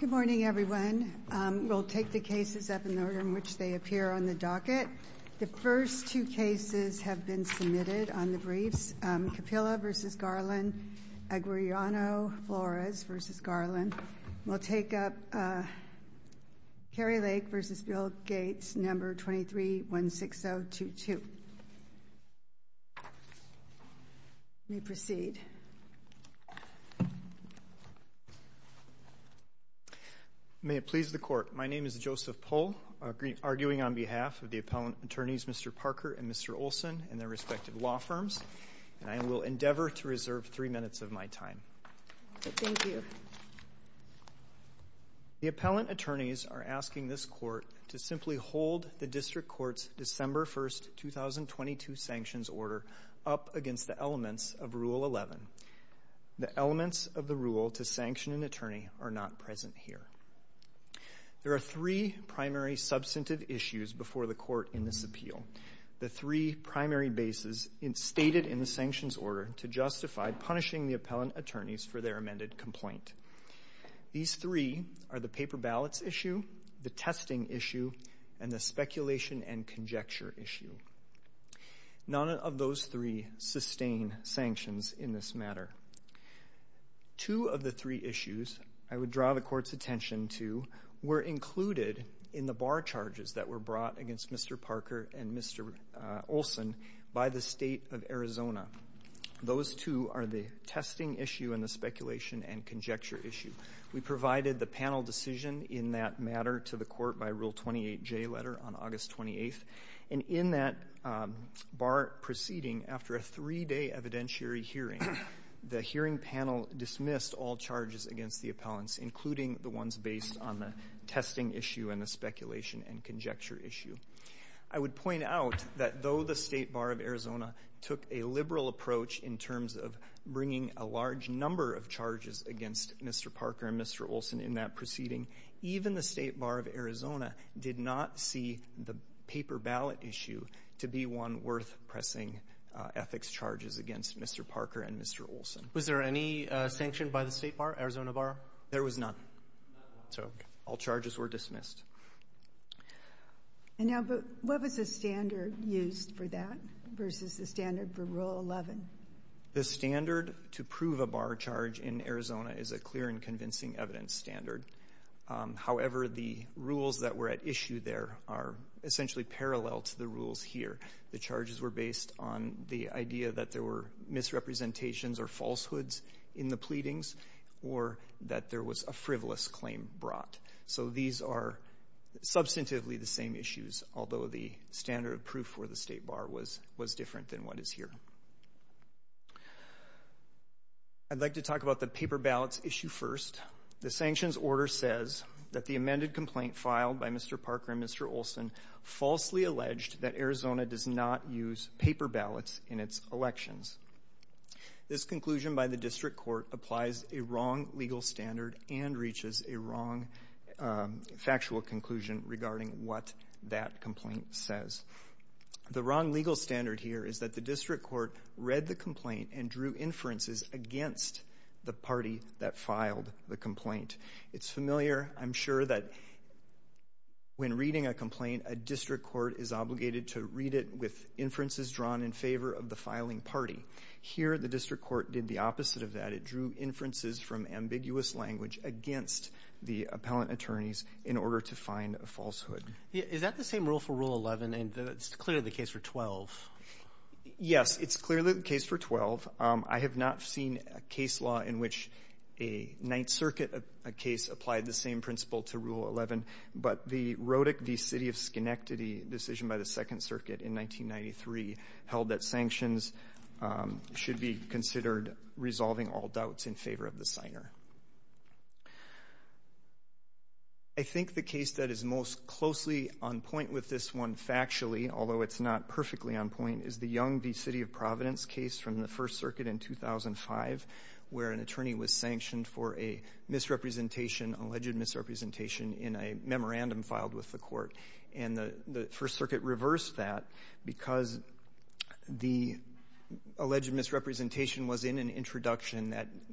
Good morning, everyone. We'll take the cases up in the order in which they appear on the docket. The first two cases have been submitted on the briefs. Capilla v. Garland, Aguirreano-Flores v. Garland. We'll take up Kari Lake v. Bill Gates, number 2316022. We proceed. May it please the Court. My name is Joseph Pohl, arguing on behalf of the Appellant Attorneys Mr. Parker and Mr. Olson and their respective law firms, and I will endeavor to reserve three minutes of my time. Thank you. The Appellant Attorneys are asking this Court to simply hold the District Court's December 1, 2022 sanctions order up against the elements of Rule 11. The elements of the rule to sanction an attorney are not present here. There are three primary substantive issues before the Court in this appeal. The three primary bases stated in the sanctions order to justify punishing the Appellant Attorneys for their amended complaint. These three are the paper ballots issue, the testing issue, and the speculation and conjecture issue. None of those three sustain sanctions in this matter. Two of the three issues I would draw the Court's attention to were included in the bar charges that were brought against Mr. Parker and Mr. Olson by the State of Arizona. Those two are the testing issue and the speculation and conjecture issue. We provided the panel decision in that matter to the Court by Rule 28J letter on August 28th, and in that bar proceeding, after a three-day evidentiary hearing, the hearing panel dismissed all charges against the Appellants, including the ones based on the testing issue and the speculation and conjecture issue. I would point out that though the State Bar of Arizona took a liberal approach in terms of bringing a large number of charges against Mr. Parker and Mr. Olson in that proceeding, even the State Bar of Arizona did not see the paper ballot issue to be one worth pressing ethics charges against Mr. Parker and Mr. Olson. Was there any sanction by the State Bar, Arizona Bar? There was none. So all charges were dismissed. And now, but what was the standard used for that versus the standard for Rule 11? The standard to prove a bar charge in Arizona is a clear and convincing evidence standard. However, the rules that were at issue there are essentially parallel to the rules here. The charges were based on the idea that there were misrepresentations or falsehoods in the pleadings or that there was a frivolous claim brought. So these are substantively the same issues, although the standard of proof for the State Bar was different than what is here. I'd like to talk about the paper ballots issue first. The sanctions order says that the amended complaint filed by Mr. Parker and Mr. Olson falsely alleged that Arizona does not use paper ballots in its elections. This conclusion by the district court applies a wrong legal standard and reaches a wrong factual conclusion regarding what that complaint says. The wrong legal standard here is that the district court read the complaint and drew inferences against the party that filed the complaint. It's familiar, I'm sure, that when reading a complaint, a district court is obligated to read it with inferences drawn in favor of the filing party. Here, the district court did the opposite of that. It drew inferences from ambiguous language against the appellant attorneys in order to find a falsehood. Is that the same rule for Rule 11, and it's clearly the case for 12? Yes. It's clearly the case for 12. I have not seen a case law in which a Ninth Circuit case applied the same principle to Rule 11. But the Rodick v. City of Schenectady decision by the Second Circuit in 1993 held that sanctions should be considered resolving all doubts in favor of the signer. I think the case that is most closely on point with this one factually, although it's not perfectly on point, is the Young v. City of Providence case from the First Circuit in 2005 where an attorney was sanctioned for a misrepresentation, alleged misrepresentation in a memorandum filed with the court. And the First Circuit reversed that because the alleged misrepresentation was in an inconsistent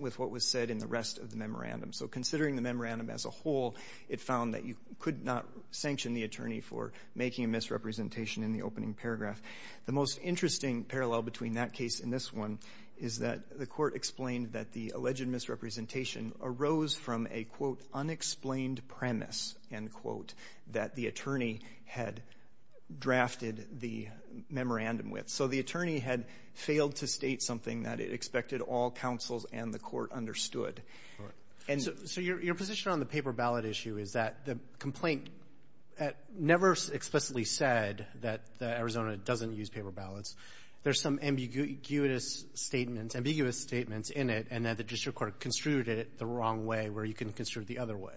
with what was said in the rest of the memorandum. So considering the memorandum as a whole, it found that you could not sanction the attorney for making a misrepresentation in the opening paragraph. The most interesting parallel between that case and this one is that the court explained that the alleged misrepresentation arose from a, quote, unexplained premise, end quote, that the attorney had drafted the memorandum with. So the attorney had failed to state something that it expected all counsels and the court understood. And so your position on the paper ballot issue is that the complaint never explicitly said that Arizona doesn't use paper ballots. There's some ambiguous statements in it and that the district court construed it the wrong way where you can construe it the other way.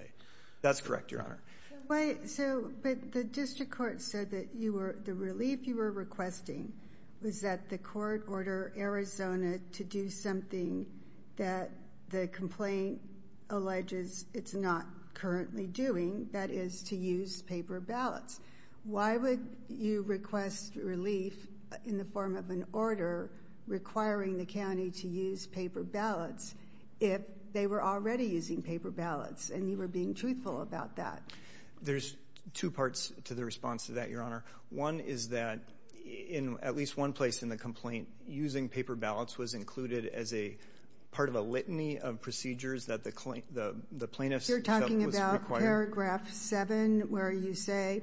That's correct, Your Honor. But the district court said that the relief you were requesting was that the court order Arizona to do something that the complaint alleges it's not currently doing, that is, to use paper ballots. Why would you request relief in the form of an order requiring the county to use paper ballots if they were already using paper ballots and you were being truthful about that? There's two parts to the response to that, Your Honor. One is that in at least one place in the complaint, using paper ballots was included as a part of a litany of procedures that the plaintiff was required. You're talking about paragraph 7 where you say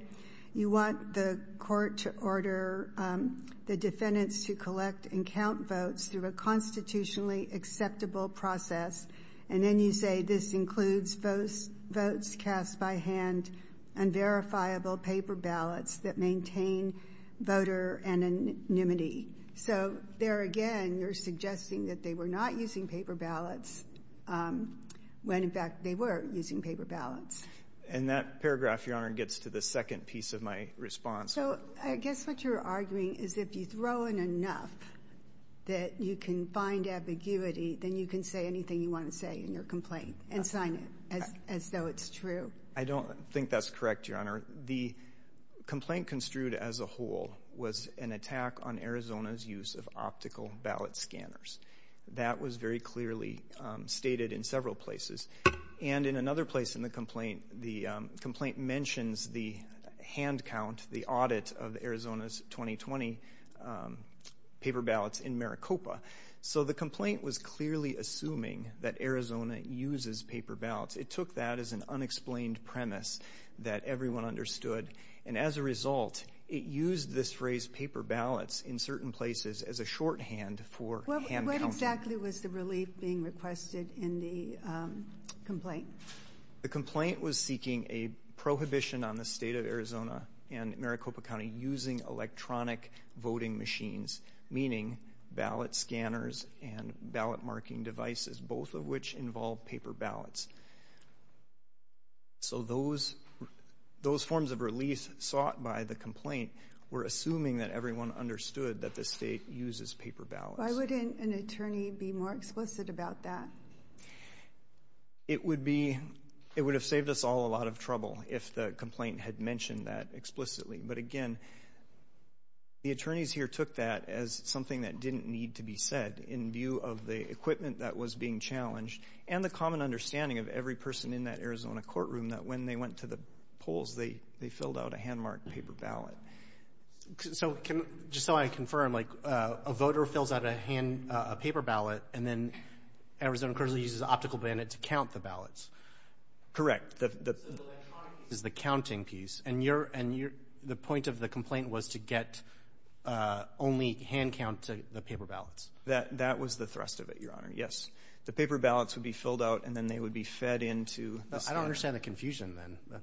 you want the court to order the defendants to collect and count votes through a constitutionally acceptable process and then you say this includes votes cast by hand and verifiable paper ballots that maintain voter anonymity. So there again, you're suggesting that they were not using paper ballots when, in fact, they were using paper ballots. And that paragraph, Your Honor, gets to the second piece of my response. So I guess what you're arguing is if you throw in enough that you can find ambiguity, then you can say anything you want to say in your complaint and sign it as though it's true. I don't think that's correct, Your Honor. The complaint construed as a whole was an attack on Arizona's use of optical ballot scanners. That was very clearly stated in several places. And in another place in the complaint, the complaint mentions the hand count, the audit of Arizona's 2020 paper ballots in Maricopa. So the complaint was clearly assuming that Arizona uses paper ballots. It took that as an unexplained premise that everyone understood. And as a result, it used this phrase paper ballots in certain places as a shorthand for hand counting. What exactly was the relief being requested in the complaint? The complaint was seeking a prohibition on the state of Arizona and Maricopa County using electronic voting machines, meaning ballot scanners and ballot marking devices, both of which involve paper ballots. So those forms of relief sought by the complaint were assuming that everyone understood that the state uses paper ballots. Why wouldn't an attorney be more explicit about that? It would have saved us all a lot of trouble if the complaint had mentioned that explicitly. But, again, the attorneys here took that as something that didn't need to be said in view of the equipment that was being challenged and the common understanding of every person in that Arizona courtroom that when they went to the polls, they filled out a hand-marked paper ballot. So just so I confirm, like, a voter fills out a paper ballot, and then Arizona currently uses optical ballot to count the ballots. Correct. So the electronic piece is the counting piece. And the point of the complaint was to get only hand count to the paper ballots. That was the thrust of it, Your Honor. Yes. The paper ballots would be filled out, and then they would be fed into the scanner. I don't understand the confusion then.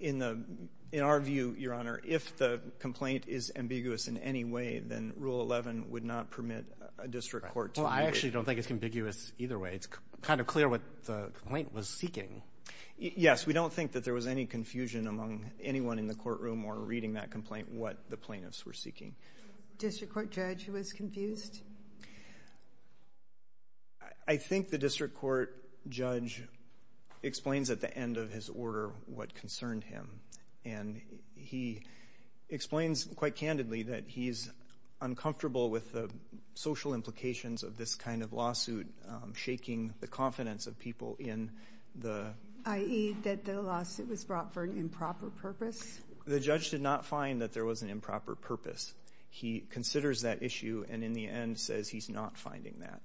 In our view, Your Honor, if the complaint is ambiguous in any way, then Rule 11 would not permit a district court to move it. Well, I actually don't think it's ambiguous either way. I mean, it's kind of clear what the complaint was seeking. Yes. We don't think that there was any confusion among anyone in the courtroom or reading that complaint what the plaintiffs were seeking. District court judge was confused? I think the district court judge explains at the end of his order what concerned him, and he explains quite candidly that he's uncomfortable with the social implications of this kind of lawsuit shaking the confidence of people in the... I.e., that the lawsuit was brought for an improper purpose? The judge did not find that there was an improper purpose. He considers that issue and in the end says he's not finding that.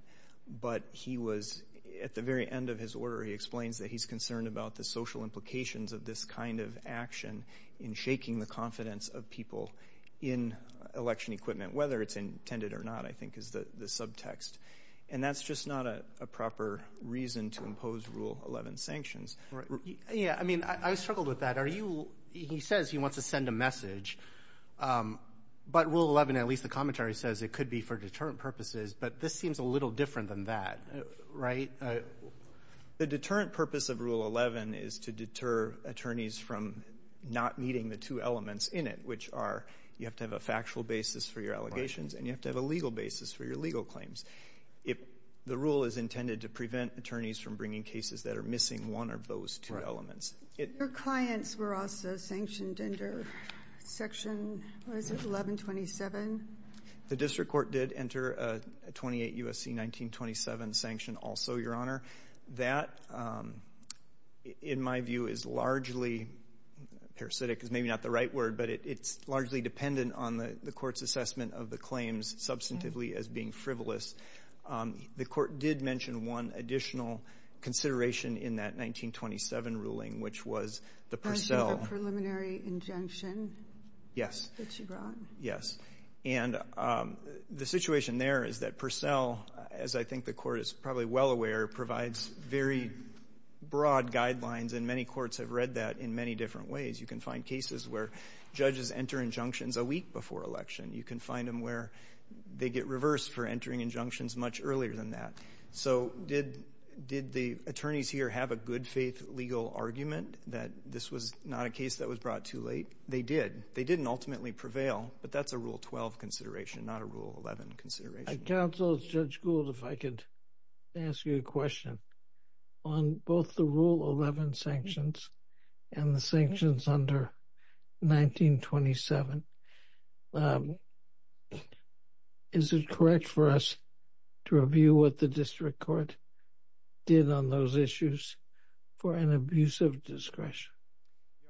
But he was, at the very end of his order, he explains that he's concerned about the social implications of this kind of action in shaking the confidence of people in election equipment, whether it's intended or not, I think is the subtext. And that's just not a proper reason to impose Rule 11 sanctions. Yeah. I mean, I struggled with that. Are you... he says he wants to send a message. But Rule 11, at least the commentary says it could be for deterrent purposes. But this seems a little different than that, right? The deterrent purpose of Rule 11 is to deter attorneys from not meeting the two elements in it, which are you have to have a factual basis for your allegations and you have to have a legal basis for your legal claims. The rule is intended to prevent attorneys from bringing cases that are missing one of those two elements. Your clients were also sanctioned under Section, what is it, 1127? The district court did enter a 28 U.S.C. 1927 sanction also, Your Honor. That, in my view, is largely parasitic. Parasitic is maybe not the right word, but it's largely dependent on the court's assessment of the claims substantively as being frivolous. The court did mention one additional consideration in that 1927 ruling, which was the Purcell. The preliminary injunction. Yes. That she brought. Yes. And the situation there is that Purcell, as I think the court is probably well aware, provides very broad guidelines, and many courts have read that in many different ways. You can find cases where judges enter injunctions a week before election. You can find them where they get reversed for entering injunctions much earlier than that. So did the attorneys here have a good-faith legal argument that this was not a case that was brought too late? They did. They didn't ultimately prevail, but that's a Rule 12 consideration, not a Rule 11 consideration. Counsel, Judge Gould, if I could ask you a question. On both the Rule 11 sanctions and the sanctions under 1927, is it correct for us to review what the district court did on those issues for an abuse of discretion?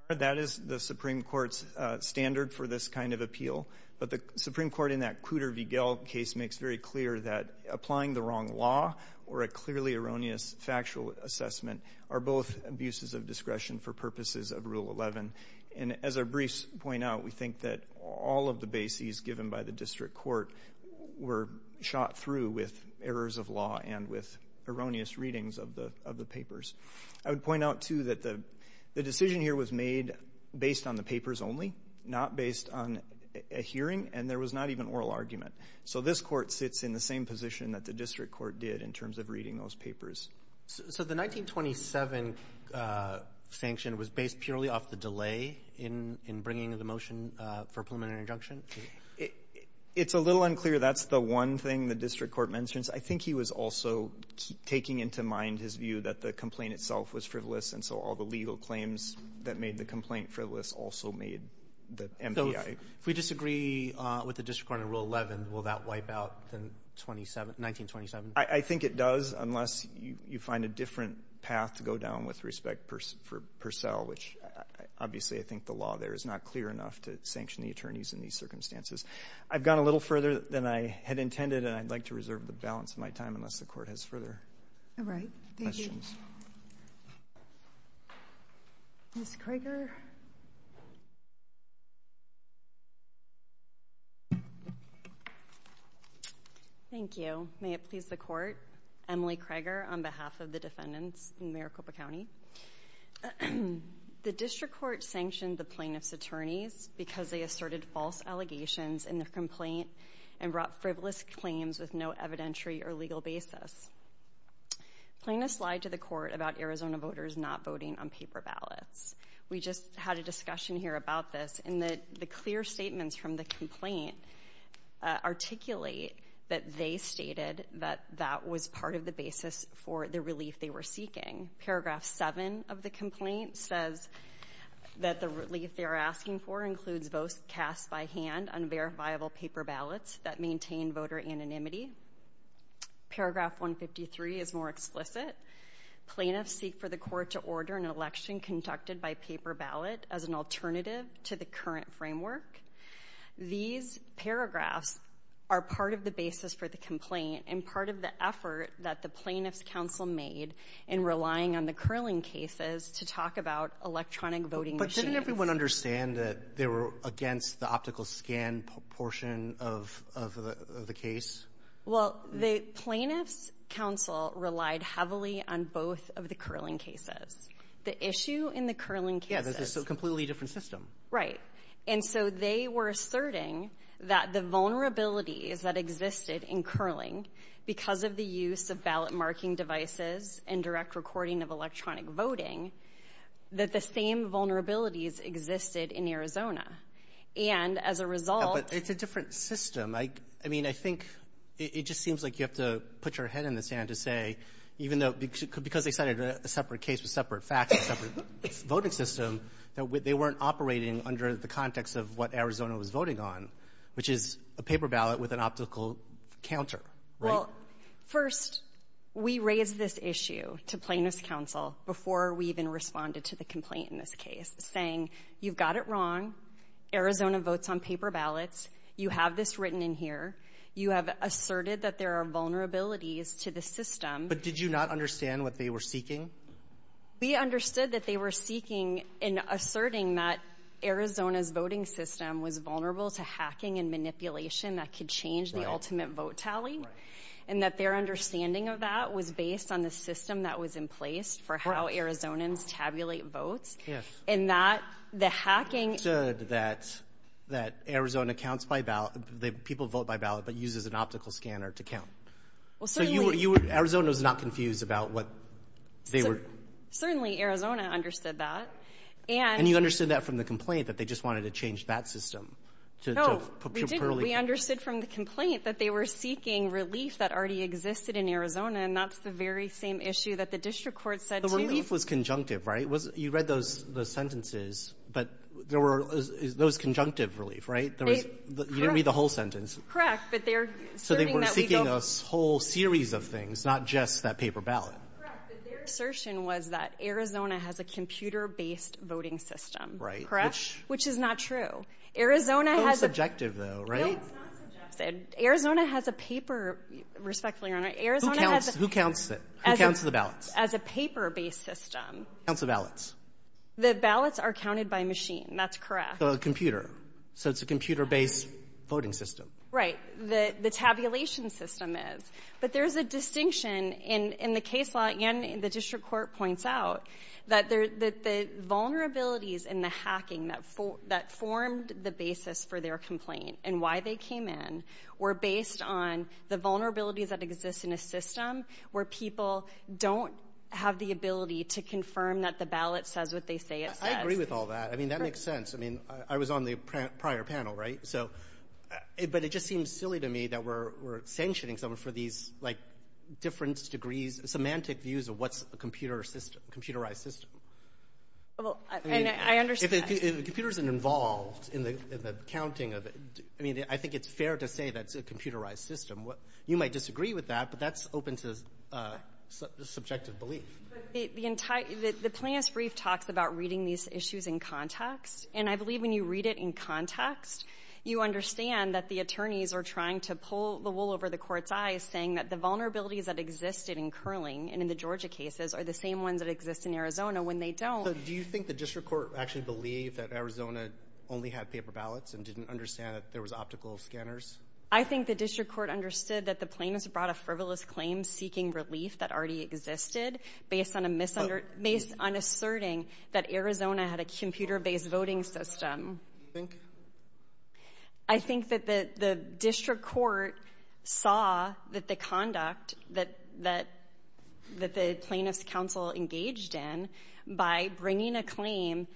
That is the Supreme Court's standard for this kind of appeal, but the Supreme Court in that Cooter v. Gell case makes very clear that applying the wrong law or a clearly erroneous factual assessment are both abuses of discretion for purposes of Rule 11. And as our briefs point out, we think that all of the bases given by the district court were shot through with errors of law and with erroneous readings of the papers. I would point out, too, that the decision here was made based on the papers only, not based on a hearing, and there was not even oral argument. So this Court sits in the same position that the district court did in terms of reading those papers. So the 1927 sanction was based purely off the delay in bringing the motion for preliminary injunction? It's a little unclear. That's the one thing the district court mentions. I think he was also taking into mind his view that the complaint itself was frivolous, and so all the legal claims that made the complaint frivolous also made the MPI. So if we disagree with the district court in Rule 11, will that wipe out the 1927? I think it does, unless you find a different path to go down with respect for Purcell, which obviously I think the law there is not clear enough to sanction the attorneys in these circumstances. I've gone a little further than I had intended, and I'd like to reserve the balance of my time unless the Court has further questions. All right. Thank you. Ms. Krager? Thank you. May it please the Court? Emily Krager on behalf of the defendants in Maricopa County. The district court sanctioned the plaintiff's attorneys because they asserted false allegations in the complaint and brought frivolous claims with no evidentiary or legal basis. Plaintiffs lied to the Court about Arizona voters not voting on paper ballots. We just had a discussion here about this, and the clear statements from the complaint articulate that they stated that that was part of the basis for the relief they were seeking. Paragraph 7 of the complaint says that the relief they are asking for includes votes cast by hand on verifiable paper ballots that maintain voter anonymity. Paragraph 153 is more explicit. Plaintiffs seek for the Court to order an election conducted by paper ballot as an alternative to the current framework. These paragraphs are part of the basis for the complaint and part of the effort that the Plaintiffs' Counsel made in relying on the curling cases to talk about electronic voting machines. But didn't everyone understand that they were against the optical scan portion of the case? Well, the Plaintiffs' Counsel relied heavily on both of the curling cases. The issue in the curling cases — Yeah. There's a completely different system. Right. And so they were asserting that the vulnerabilities that existed in curling because of the use of ballot-marking devices and direct recording of electronic voting, that the same vulnerabilities existed in Arizona. And as a result — Yeah, but it's a different system. I mean, I think it just seems like you have to put your head in the sand to say, even though — because they cited a separate case with separate facts, a separate voting system, that they weren't operating under the context of what Arizona was voting on, which is a paper ballot with an optical counter. Right? Well, first, we raised this issue to Plaintiffs' Counsel before we even responded to the complaint in this case, saying, you've got it wrong. Arizona votes on paper ballots. You have this written in here. You have asserted that there are vulnerabilities to the system. But did you not understand what they were seeking? We understood that they were seeking and asserting that Arizona's voting system was vulnerable to hacking and manipulation that could change the ultimate vote tally. And that their understanding of that was based on the system that was in place for how Arizonans tabulate votes. Yes. And that the hacking — You understood that Arizona counts by ballot — people vote by ballot, but uses an optical scanner to count. Well, certainly — So you were — Arizona was not confused about what they were — Certainly, Arizona understood that. And — And you understood that from the complaint, that they just wanted to change that system to — No, we didn't. We understood from the complaint that they were seeking relief that already existed in Arizona, and that's the very same issue that the district court said, too. The relief was conjunctive, right? You read those sentences, but there were — it was conjunctive relief, right? You didn't read the whole sentence. Correct, but they're — So they were seeking a whole series of things, not just that paper ballot. Correct, but their assertion was that Arizona has a computer-based voting system. Right. Correct? Which is not true. Arizona has a — It's not subjective, though, right? No, it's not subjective. Arizona has a paper — respectfully, Your Honor, Arizona has a — Who counts it? Who counts the ballots? As a paper-based system. Who counts the ballots? The ballots are counted by machine. That's correct. So a computer. So it's a computer-based voting system. Right. The tabulation system is. But there's a distinction in the case law, and the district court points out, that the vulnerabilities in the hacking that formed the basis for their complaint and why they came in were based on the vulnerabilities that exist in a system where people don't have the ability to confirm that the ballot says what they say it says. I agree with all that. I mean, that makes sense. I mean, I was on the prior panel, right? But it just seems silly to me that we're sanctioning someone for these, like, different degrees — semantic views of what's a computerized system. Well, I understand. If a computer isn't involved in the counting of — I mean, I think it's fair to say that's a computerized system. You might disagree with that, but that's open to subjective belief. The plaintiff's brief talks about reading these issues in context. And I believe when you read it in context, you understand that the attorneys are trying to pull the wool over the court's eyes, saying that the vulnerabilities that existed in curling and in the Georgia cases are the same ones that exist in Arizona when they don't. So do you think the district court actually believed that Arizona only had paper ballots and didn't understand that there was optical scanners? I think the district court understood that the plaintiffs brought a frivolous claim seeking relief that already existed based on asserting that Arizona had a computer-based voting system. Do you think? I think that the district court saw that the conduct that the plaintiff's counsel engaged in by bringing a claim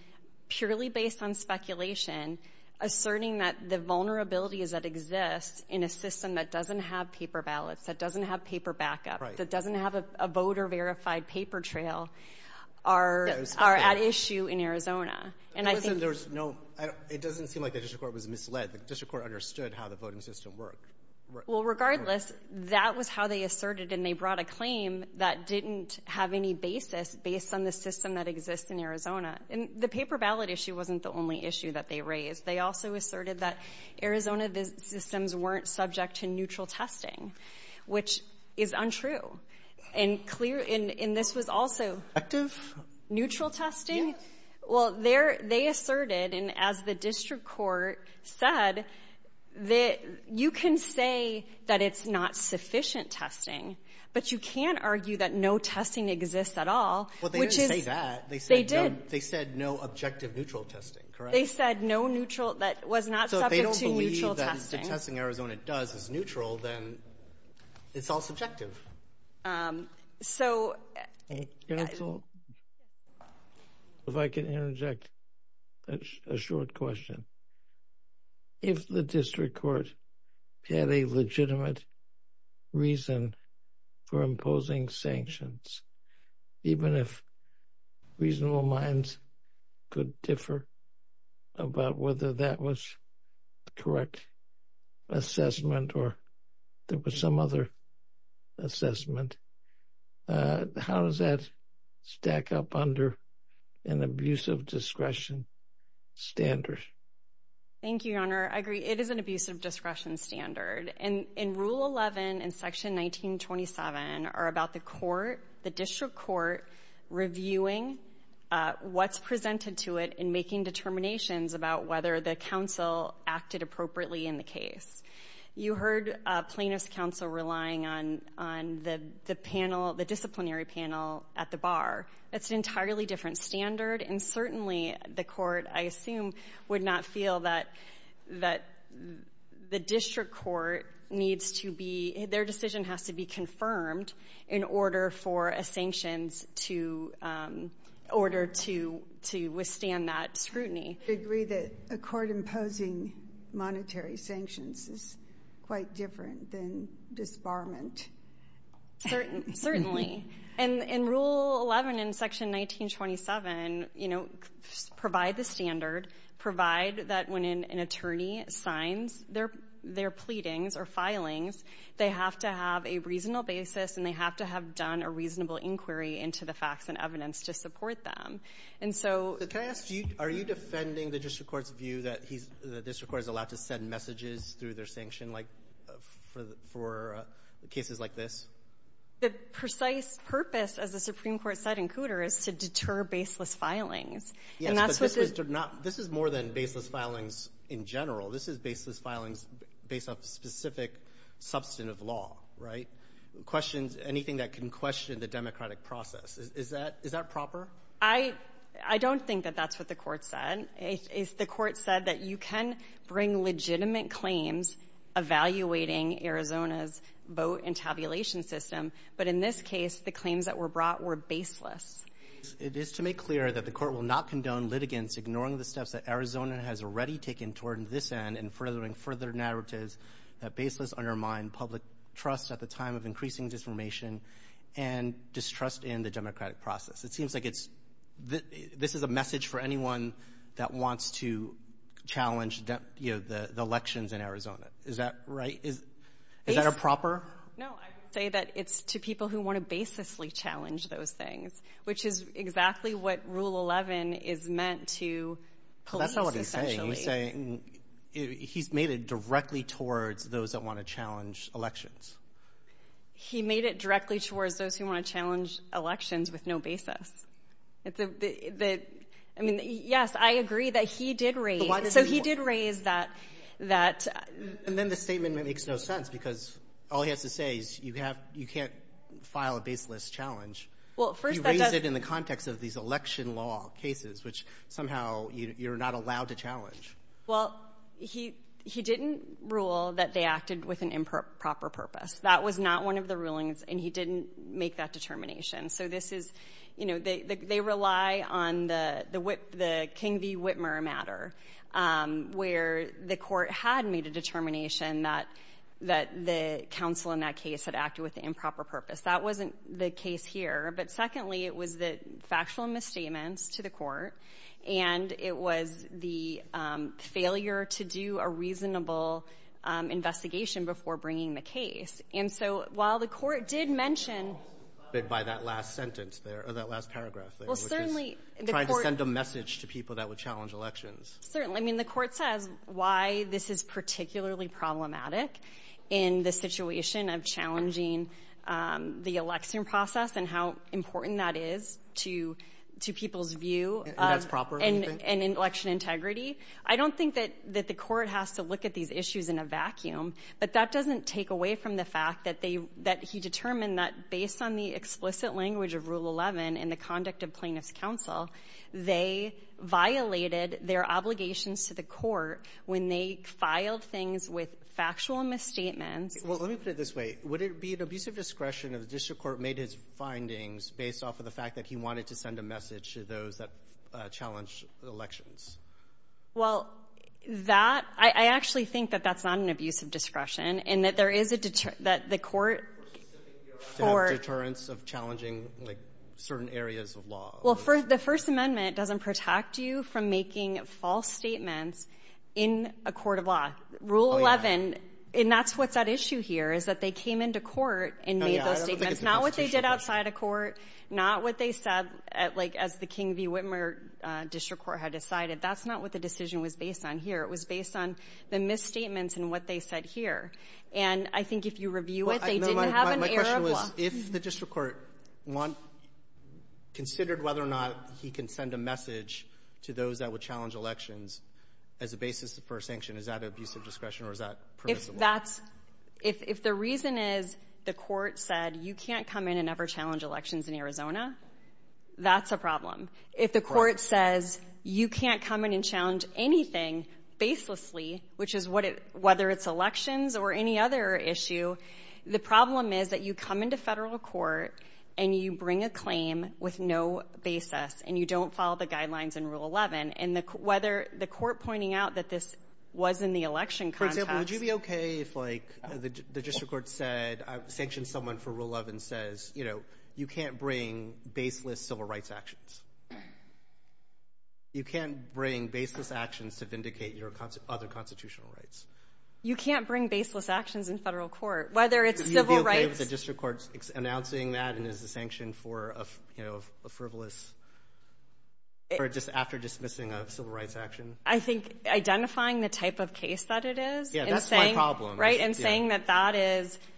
purely based on speculation, asserting that the vulnerabilities that exist in a system that doesn't have paper ballots, that doesn't have paper backup, that doesn't have a voter-verified paper trail, are at issue in Arizona. It doesn't seem like the district court was misled. The district court understood how the voting system worked. Well, regardless, that was how they asserted and they brought a claim that didn't have any basis based on the system that exists in Arizona. And the paper ballot issue wasn't the only issue that they raised. They also asserted that Arizona systems weren't subject to neutral testing, which is untrue. And this was also neutral testing? Well, they asserted, and as the district court said, you can say that it's not sufficient testing, but you can't argue that no testing exists at all. Well, they didn't say that. They did. They said no objective neutral testing, correct? They said no neutral that was not subject to neutral testing. If the testing Arizona does is neutral, then it's all subjective. If I can interject a short question. If the district court had a legitimate reason for imposing sanctions, even if reasonable minds could differ about whether that was the correct assessment or there was some other assessment, how does that stack up under an abusive discretion standard? Thank you, Your Honor. I agree. It is an abusive discretion standard. And Rule 11 and Section 1927 are about the court, the district court, reviewing what's presented to it and making determinations about whether the counsel acted appropriately in the case. You heard plaintiff's counsel relying on the panel, the disciplinary panel at the bar. It's an entirely different standard, and certainly the court, I assume, would not feel that the district court needs to be, their decision has to be confirmed in order for a sanctions to, in order to withstand that scrutiny. I agree that a court imposing monetary sanctions is quite different than disbarment. Certainly. And Rule 11 and Section 1927 provide the standard, provide that when an attorney signs their pleadings or filings, they have to have a reasonable basis and they have to have done a reasonable inquiry into the facts and evidence to support them. Can I ask you, are you defending the district court's view that the district court is allowed to send messages through their sanction for cases like this? The precise purpose, as the Supreme Court said in Cooter, is to deter baseless filings. Yes, but this is more than baseless filings in general. This is baseless filings based on specific substantive law, right? Questions, anything that can question the democratic process. Is that proper? I don't think that that's what the Court said. The Court said that you can bring legitimate claims evaluating Arizona's vote and tabulation system. But in this case, the claims that were brought were baseless. It is to make clear that the Court will not condone litigants ignoring the steps that Arizona has already taken toward this end and furthering further narratives that baseless undermine public trust at the time of increasing disinformation and distrust in the democratic process. It seems like it's — this is a message for anyone that wants to challenge the elections in Arizona. Is that right? Is that a proper — No, I would say that it's to people who want to baselessly challenge those things, which is exactly what Rule 11 is meant to police, essentially. That's not what he's saying. He's made it directly towards those that want to challenge elections. He made it directly towards those who want to challenge elections with no basis. I mean, yes, I agree that he did raise — So he did raise that — And then the statement makes no sense because all he has to say is you can't file a baseless challenge. He raised it in the context of these election law cases, which somehow you're not allowed to challenge. Well, he didn't rule that they acted with an improper purpose. That was not one of the rulings, and he didn't make that determination. So this is — you know, they rely on the King v. Whitmer matter, where the court had made a determination that the counsel in that case had acted with an improper purpose. That wasn't the case here. But secondly, it was the factual misstatements to the court, and it was the failure to do a reasonable investigation before bringing the case. And so while the court did mention — By that last sentence there, or that last paragraph there, which is trying to send a message to people that would challenge elections. Certainly. I mean, the court says why this is particularly problematic in the situation of challenging the election process and how important that is to people's view of — And that's proper, do you think? And election integrity. I don't think that the court has to look at these issues in a vacuum, but that doesn't take away from the fact that he determined that based on the explicit language of Rule 11 and the conduct of plaintiff's counsel, they violated their obligations to the court when they filed things with factual misstatements. Well, let me put it this way. Would it be an abusive discretion if the district court made its findings based off of the fact that he wanted to send a message to those that challenged elections? Well, that — I actually think that that's not an abusive discretion and that there is a — that the court — To have deterrence of challenging, like, certain areas of law. Well, the First Amendment doesn't protect you from making false statements in a court of law. Rule 11, and that's what's at issue here, is that they came into court and made those statements. Not what they did outside of court, not what they said, like as the King v. Whitmer district court had decided. That's not what the decision was based on here. It was based on the misstatements and what they said here. And I think if you review it, they didn't have an error of law. My question was if the district court considered whether or not he can send a message to those that would challenge elections as a basis for a sanction, is that an abusive discretion or is that permissible? If that's — if the reason is the court said you can't come in and ever challenge elections in Arizona, that's a problem. Correct. If the court says you can't come in and challenge anything baselessly, which is whether it's elections or any other issue, the problem is that you come into federal court and you bring a claim with no basis and you don't follow the guidelines in Rule 11. And whether the court pointing out that this was in the election context — For example, would you be okay if, like, the district court said — sanctioned someone for Rule 11 says, you know, you can't bring baseless civil rights actions. You can't bring baseless actions to vindicate your other constitutional rights. You can't bring baseless actions in federal court, whether it's civil rights — Would you be okay with the district court announcing that and as a sanction for a frivolous — or just after dismissing a civil rights action? I think identifying the type of case that it is and saying — Yeah, that's my problem. Right, and saying that that is —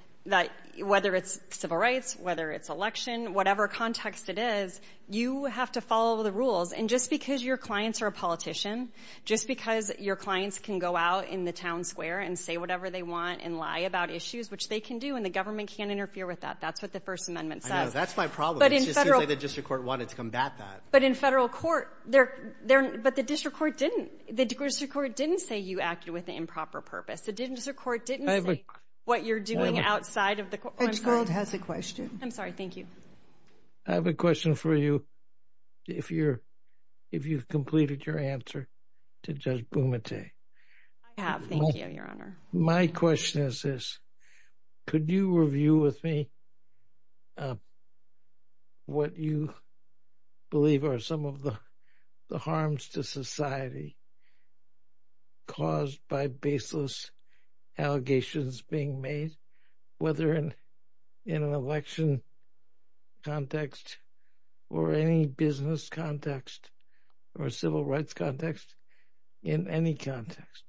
whether it's civil rights, whether it's election, whatever context it is, you have to follow the rules. And just because your clients are a politician, just because your clients can go out in the town square and say whatever they want and lie about issues, which they can do, and the government can't interfere with that, that's what the First Amendment says. I know. That's my problem. It just seems like the district court wanted to combat that. But in federal court, they're — but the district court didn't. The district court didn't say you acted with improper purpose. The district court didn't say what you're doing outside of the court. Edgefield has a question. I'm sorry. Thank you. I have a question for you, if you've completed your answer to Judge Bumate. I have. Thank you, Your Honor. My question is this. Could you review with me what you believe are some of the harms to society caused by baseless allegations being made, whether in an election context or any business context or civil rights context, in any context?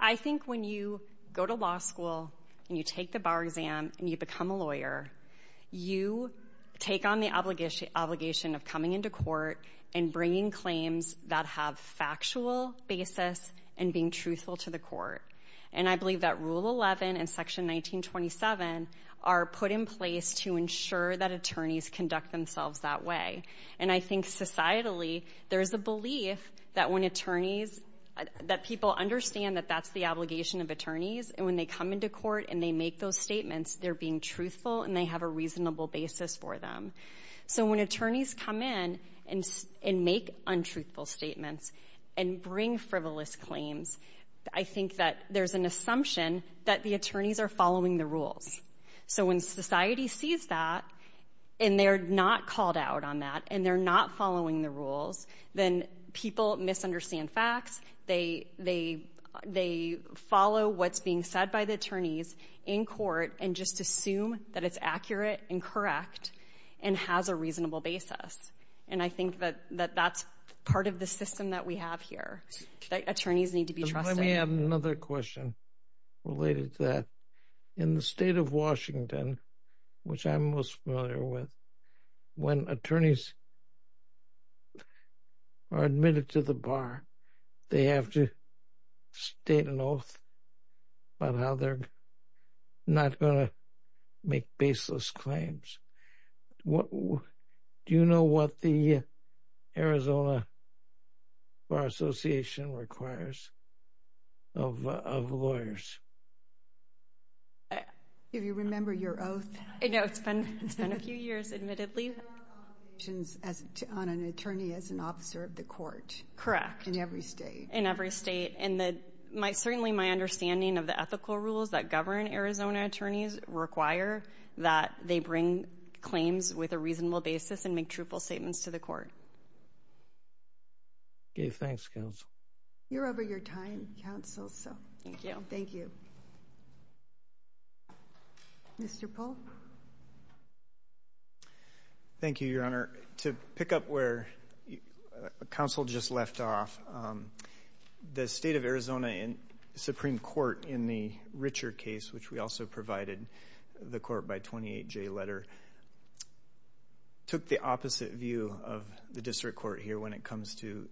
I think when you go to law school and you take the bar exam and you become a lawyer, you take on the obligation of coming into court and bringing claims that have factual basis and being truthful to the court. And I believe that Rule 11 and Section 1927 are put in place to ensure that attorneys conduct themselves that way. And I think societally there is a belief that when attorneys — that people understand that that's the obligation of attorneys, and when they come into court and they make those statements, they're being truthful and they have a reasonable basis for them. So when attorneys come in and make untruthful statements and bring frivolous claims, I think that there's an assumption that the attorneys are following the rules. So when society sees that and they're not called out on that and they're not following the rules, then people misunderstand facts. They follow what's being said by the attorneys in court and just assume that it's accurate and correct. And has a reasonable basis. And I think that that's part of the system that we have here, that attorneys need to be trusting. Let me add another question related to that. In the state of Washington, which I'm most familiar with, when attorneys are admitted to the bar, they have to state an oath about how they're not going to make baseless claims. Do you know what the Arizona Bar Association requires of lawyers? Do you remember your oath? No, it's been a few years, admittedly. There are obligations on an attorney as an officer of the court. Correct. In every state. In every state. And certainly my understanding of the ethical rules that govern Arizona attorneys require that they bring claims with a reasonable basis and make truthful statements to the court. Okay, thanks, counsel. You're over your time, counsel. Thank you. Thank you. Mr. Polk? Thank you, Your Honor. To pick up where counsel just left off, the state of Arizona Supreme Court in the Richer case, which we also provided the court by 28J letter, took the opposite view of the district court here when it comes to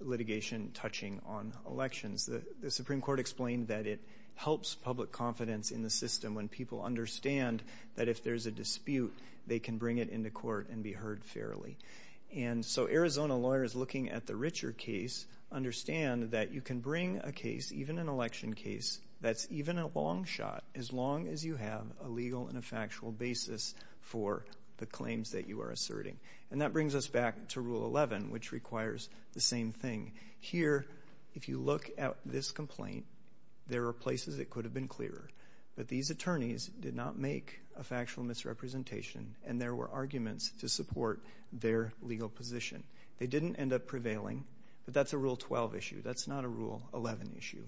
litigation touching on elections. The Supreme Court explained that it helps public confidence in the system when people understand that if there's a dispute, they can bring it into court and be heard fairly. And so Arizona lawyers looking at the Richer case understand that you can bring a case, even an election case, that's even a long shot, as long as you have a legal and a factual basis for the claims that you are asserting. And that brings us back to Rule 11, which requires the same thing. Here, if you look at this complaint, there are places it could have been clearer, but these attorneys did not make a factual misrepresentation and there were arguments to support their legal position. They didn't end up prevailing, but that's a Rule 12 issue. That's not a Rule 11 issue.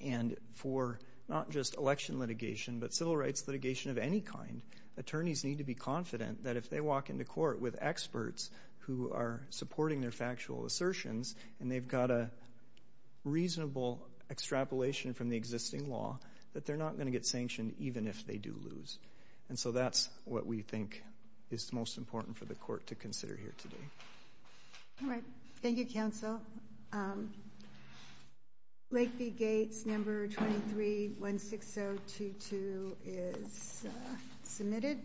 And for not just election litigation but civil rights litigation of any kind, attorneys need to be confident that if they walk into court with experts who are supporting their factual assertions and they've got a reasonable extrapolation from the existing law, that they're not going to get sanctioned even if they do lose. And so that's what we think is most important for the court to consider here today. All right. Thank you, counsel. Lakeview Gates No. 23-16022 is submitted.